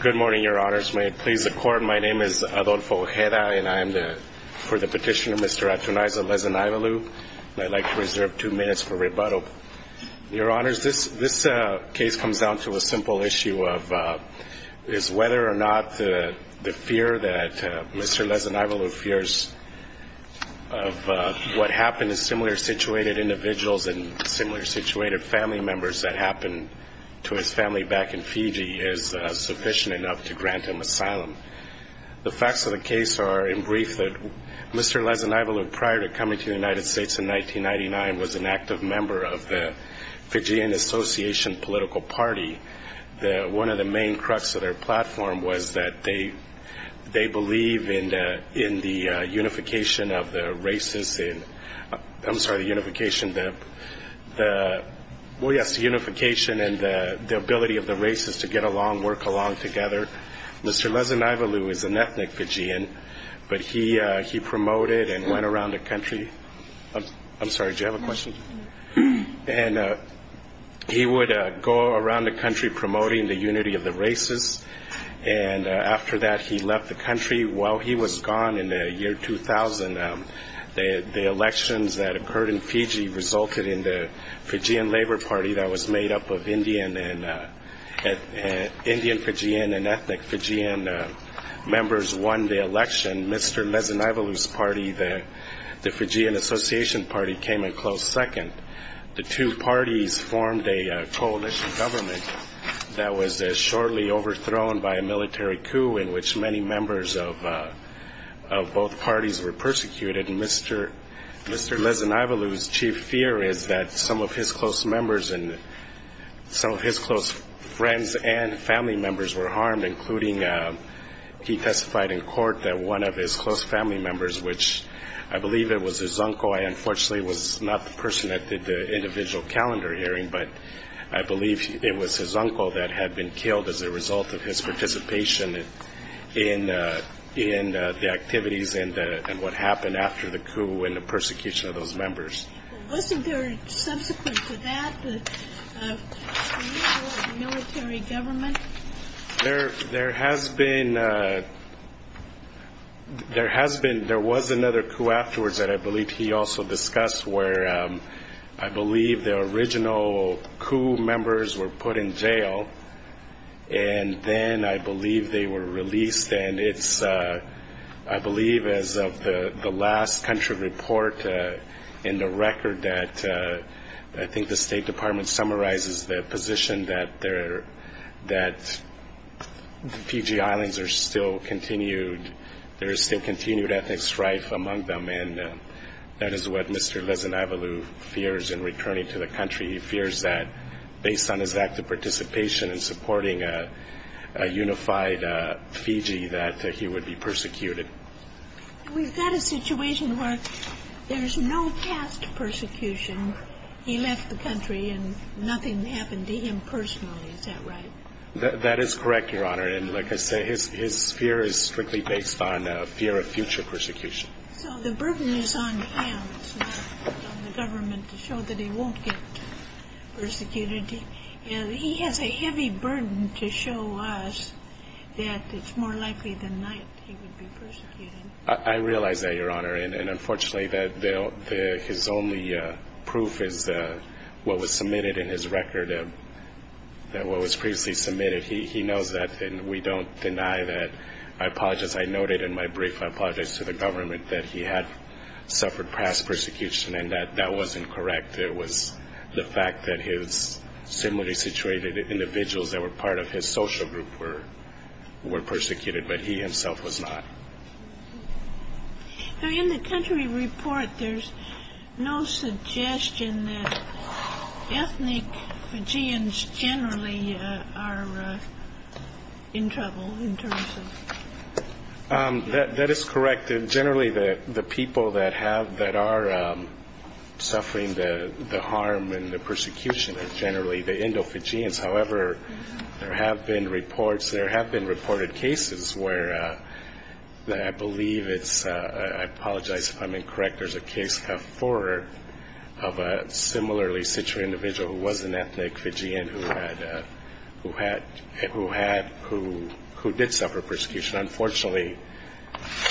Good morning, Your Honors. May it please the Court, my name is Adolfo Ojeda, and I am for the petition of Mr. Atunayza Lezinaivalu. I'd like to reserve two minutes for rebuttal. Your Honors, this case comes down to a simple issue of whether or not the fear that Mr. Lezinaivalu fears of what happened to similar-situated individuals and similar-situated family members that happened to his family back in Fiji is sufficient enough to grant him asylum. The facts of the case are, in brief, that Mr. Lezinaivalu, prior to coming to the United States in 1999, was an active member of the Fijian Association political party. One of the main crux of their platform was that they believe in the unification of the races in Fiji. I'm sorry, the unification and the ability of the races to get along, work along together. Mr. Lezinaivalu is an ethnic Fijian, but he promoted and went around the country – I'm sorry, did you have a question? – and he would go around the country promoting the unity of the races, and after that, he left the country. While he was gone in the year 2000, the elections that occurred in Fiji resulted in the Fijian Labor Party that was made up of Indian Fijian and ethnic Fijian members won the election. Mr. Lezinaivalu's party, the Fijian Association party, came in close second. The two parties formed a coalition government that was shortly overthrown by a military coup in which many members of both parties were persecuted. Mr. Lezinaivalu's chief fear is that some of his close members and some of his close friends and family members were harmed, including – he testified in court that one of his close family members, which I believe it was his uncle – I unfortunately was not the person that did the individual calendar hearing, but I believe it was his and what happened after the coup and the persecution of those members. Wasn't there subsequent to that the removal of military government? There has been – there was another coup afterwards that I believe he also discussed where I believe the original coup members were put in jail, and then I believe they the last country report in the record that I think the State Department summarizes the position that Fiji Islands are still continued – there is still continued ethnic strife among them, and that is what Mr. Lezinaivalu fears in returning to the country. He fears that based on his active participation in supporting a unified Fiji that he would be We've got a situation where there's no past persecution. He left the country and nothing happened to him personally. Is that right? That is correct, Your Honor. And like I say, his fear is strictly based on a fear of future persecution. So the burden is on him. It's not on the government to show that he won't get persecuted. He has a heavy burden to show us that it's more likely than not he would be persecuted. I realize that, Your Honor, and unfortunately his only proof is what was submitted in his record, what was previously submitted. He knows that and we don't deny that. I apologize, I noted in my brief, I apologize to the government that he had suffered past persecution and that that wasn't correct. It was the fact that his similarly situated individuals that were part of his social group were persecuted, but he himself was not. Now in the country report, there's no suggestion that ethnic Fijians generally are in trouble in terms of That is correct. And generally the people that have, that are suffering the harm and the persecution are generally the Indo-Fijians. However, there have been reports, there have been reported cases where I believe it's, I apologize if I'm incorrect, there's a case of four of a similarly situated individual who was an ethnic Fijian who had, who did suffer persecution. Unfortunately,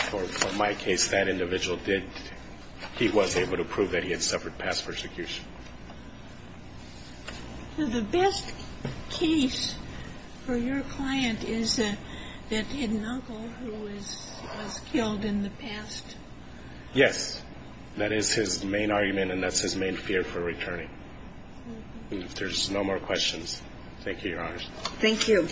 for my case, that individual did, he was able to prove that he had suffered past persecution. So the best case for your client is that, that hidden uncle who was killed in the past? Yes. That is his main argument and that's his main fear for returning. If there's no more questions, thank you, Your Honor. Thank you.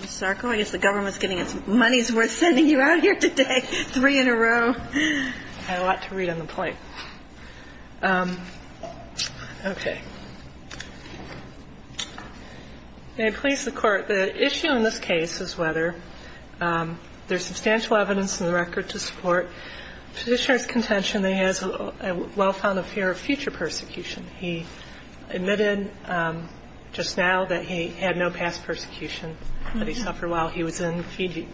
Ms. Sarko, I guess the government's getting its money's worth sending you out here today, three in a row. I had a lot to read on the plate. Okay. May it please the Court, the issue in this case is whether there's substantial evidence in the record to support Petitioner's contention that he has a well-founded fear of future persecution. He admitted just now that he had no past persecution, that he suffered while he was in Fiji.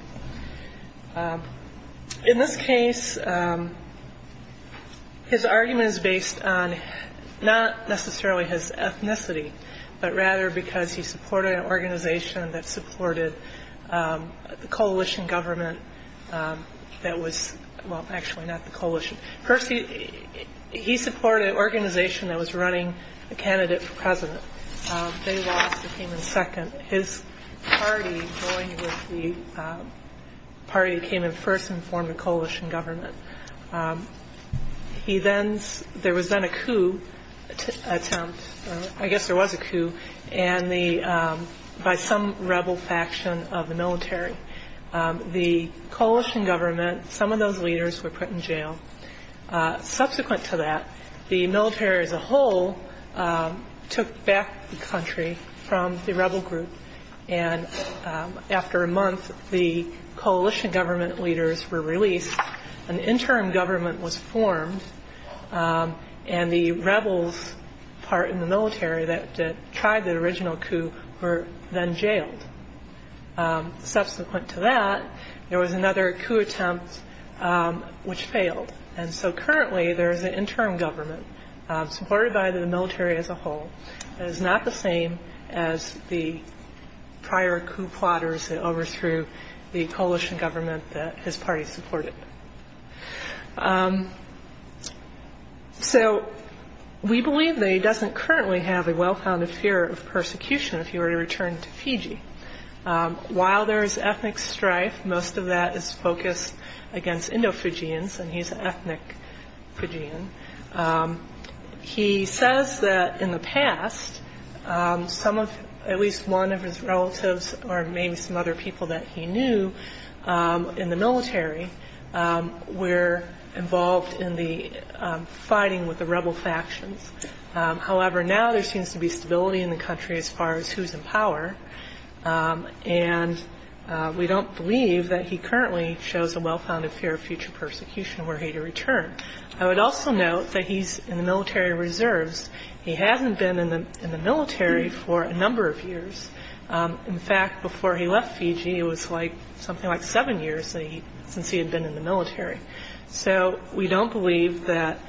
In this case, his argument is based on not necessarily his ethnicity, but rather because he supported an organization that supported the coalition government that was, well, actually not the coalition. First, he supported an organization that was running a candidate for president. They lost, he came in second. His party, going with the party that came in first, informed the coalition government. He then, there was then a coup attempt, I guess there was a coup, and the, by some rebel faction of the military. The coalition government, some of those leaders were put in jail. Subsequent to that, the military as a whole took back the country from the rebel group, and after a month, the coalition government leaders were released. An interim government was formed, and the rebels part in the military that tried the original coup were then jailed. Subsequent to that, there was another coup attempt which failed. And so currently there is an interim government, supported by the military as a whole, that is not the same as the prior coup plotters that overthrew the coalition government that his party supported. So we believe that he doesn't currently have a well-founded fear of persecution if he were to return to Fiji. While there is ethnic strife, most of that is focused against Indo-Fijians, and he's an ethnic Fijian. He says that in the past, some of, at least one of his relatives, or maybe some other people that he knew in the military were involved in the fighting with the rebel factions. However, now there seems to be no one in the country as far as who's in power, and we don't believe that he currently shows a well-founded fear of future persecution were he to return. I would also note that he's in the military reserves. He hasn't been in the military for a number of years. In fact, before he left Fiji, it was like something like seven years since he had been in the military. So we don't believe that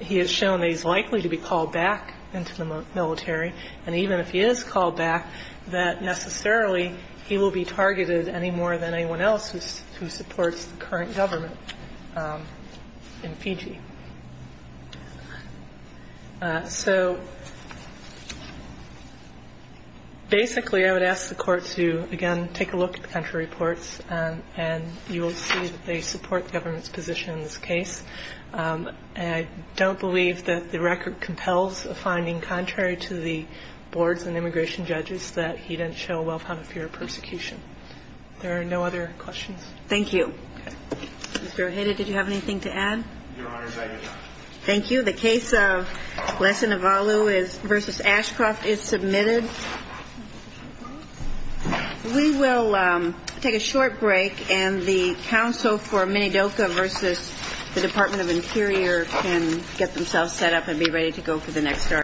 he has shown that he's likely to be called back into the military. And even if he is called back, that necessarily he will be targeted any more than anyone else who supports the current government in Fiji. So basically I would ask the Court to, again, take a look at the country reports, and you will see that they support the government's position in this case. And I don't believe that the record compels a finding contrary to the boards and immigration judges that he didn't show a well-founded fear of persecution. There are no other questions. Thank you. Mr. Oheda, did you have anything to add? Your Honor, I did not. Thank you. The case of Lessa Navalu v. Ashcroft is submitted. We will take a short break, and the counsel for Minidoka v. the Department of Interior can get themselves set up and be ready to go for the next hearing.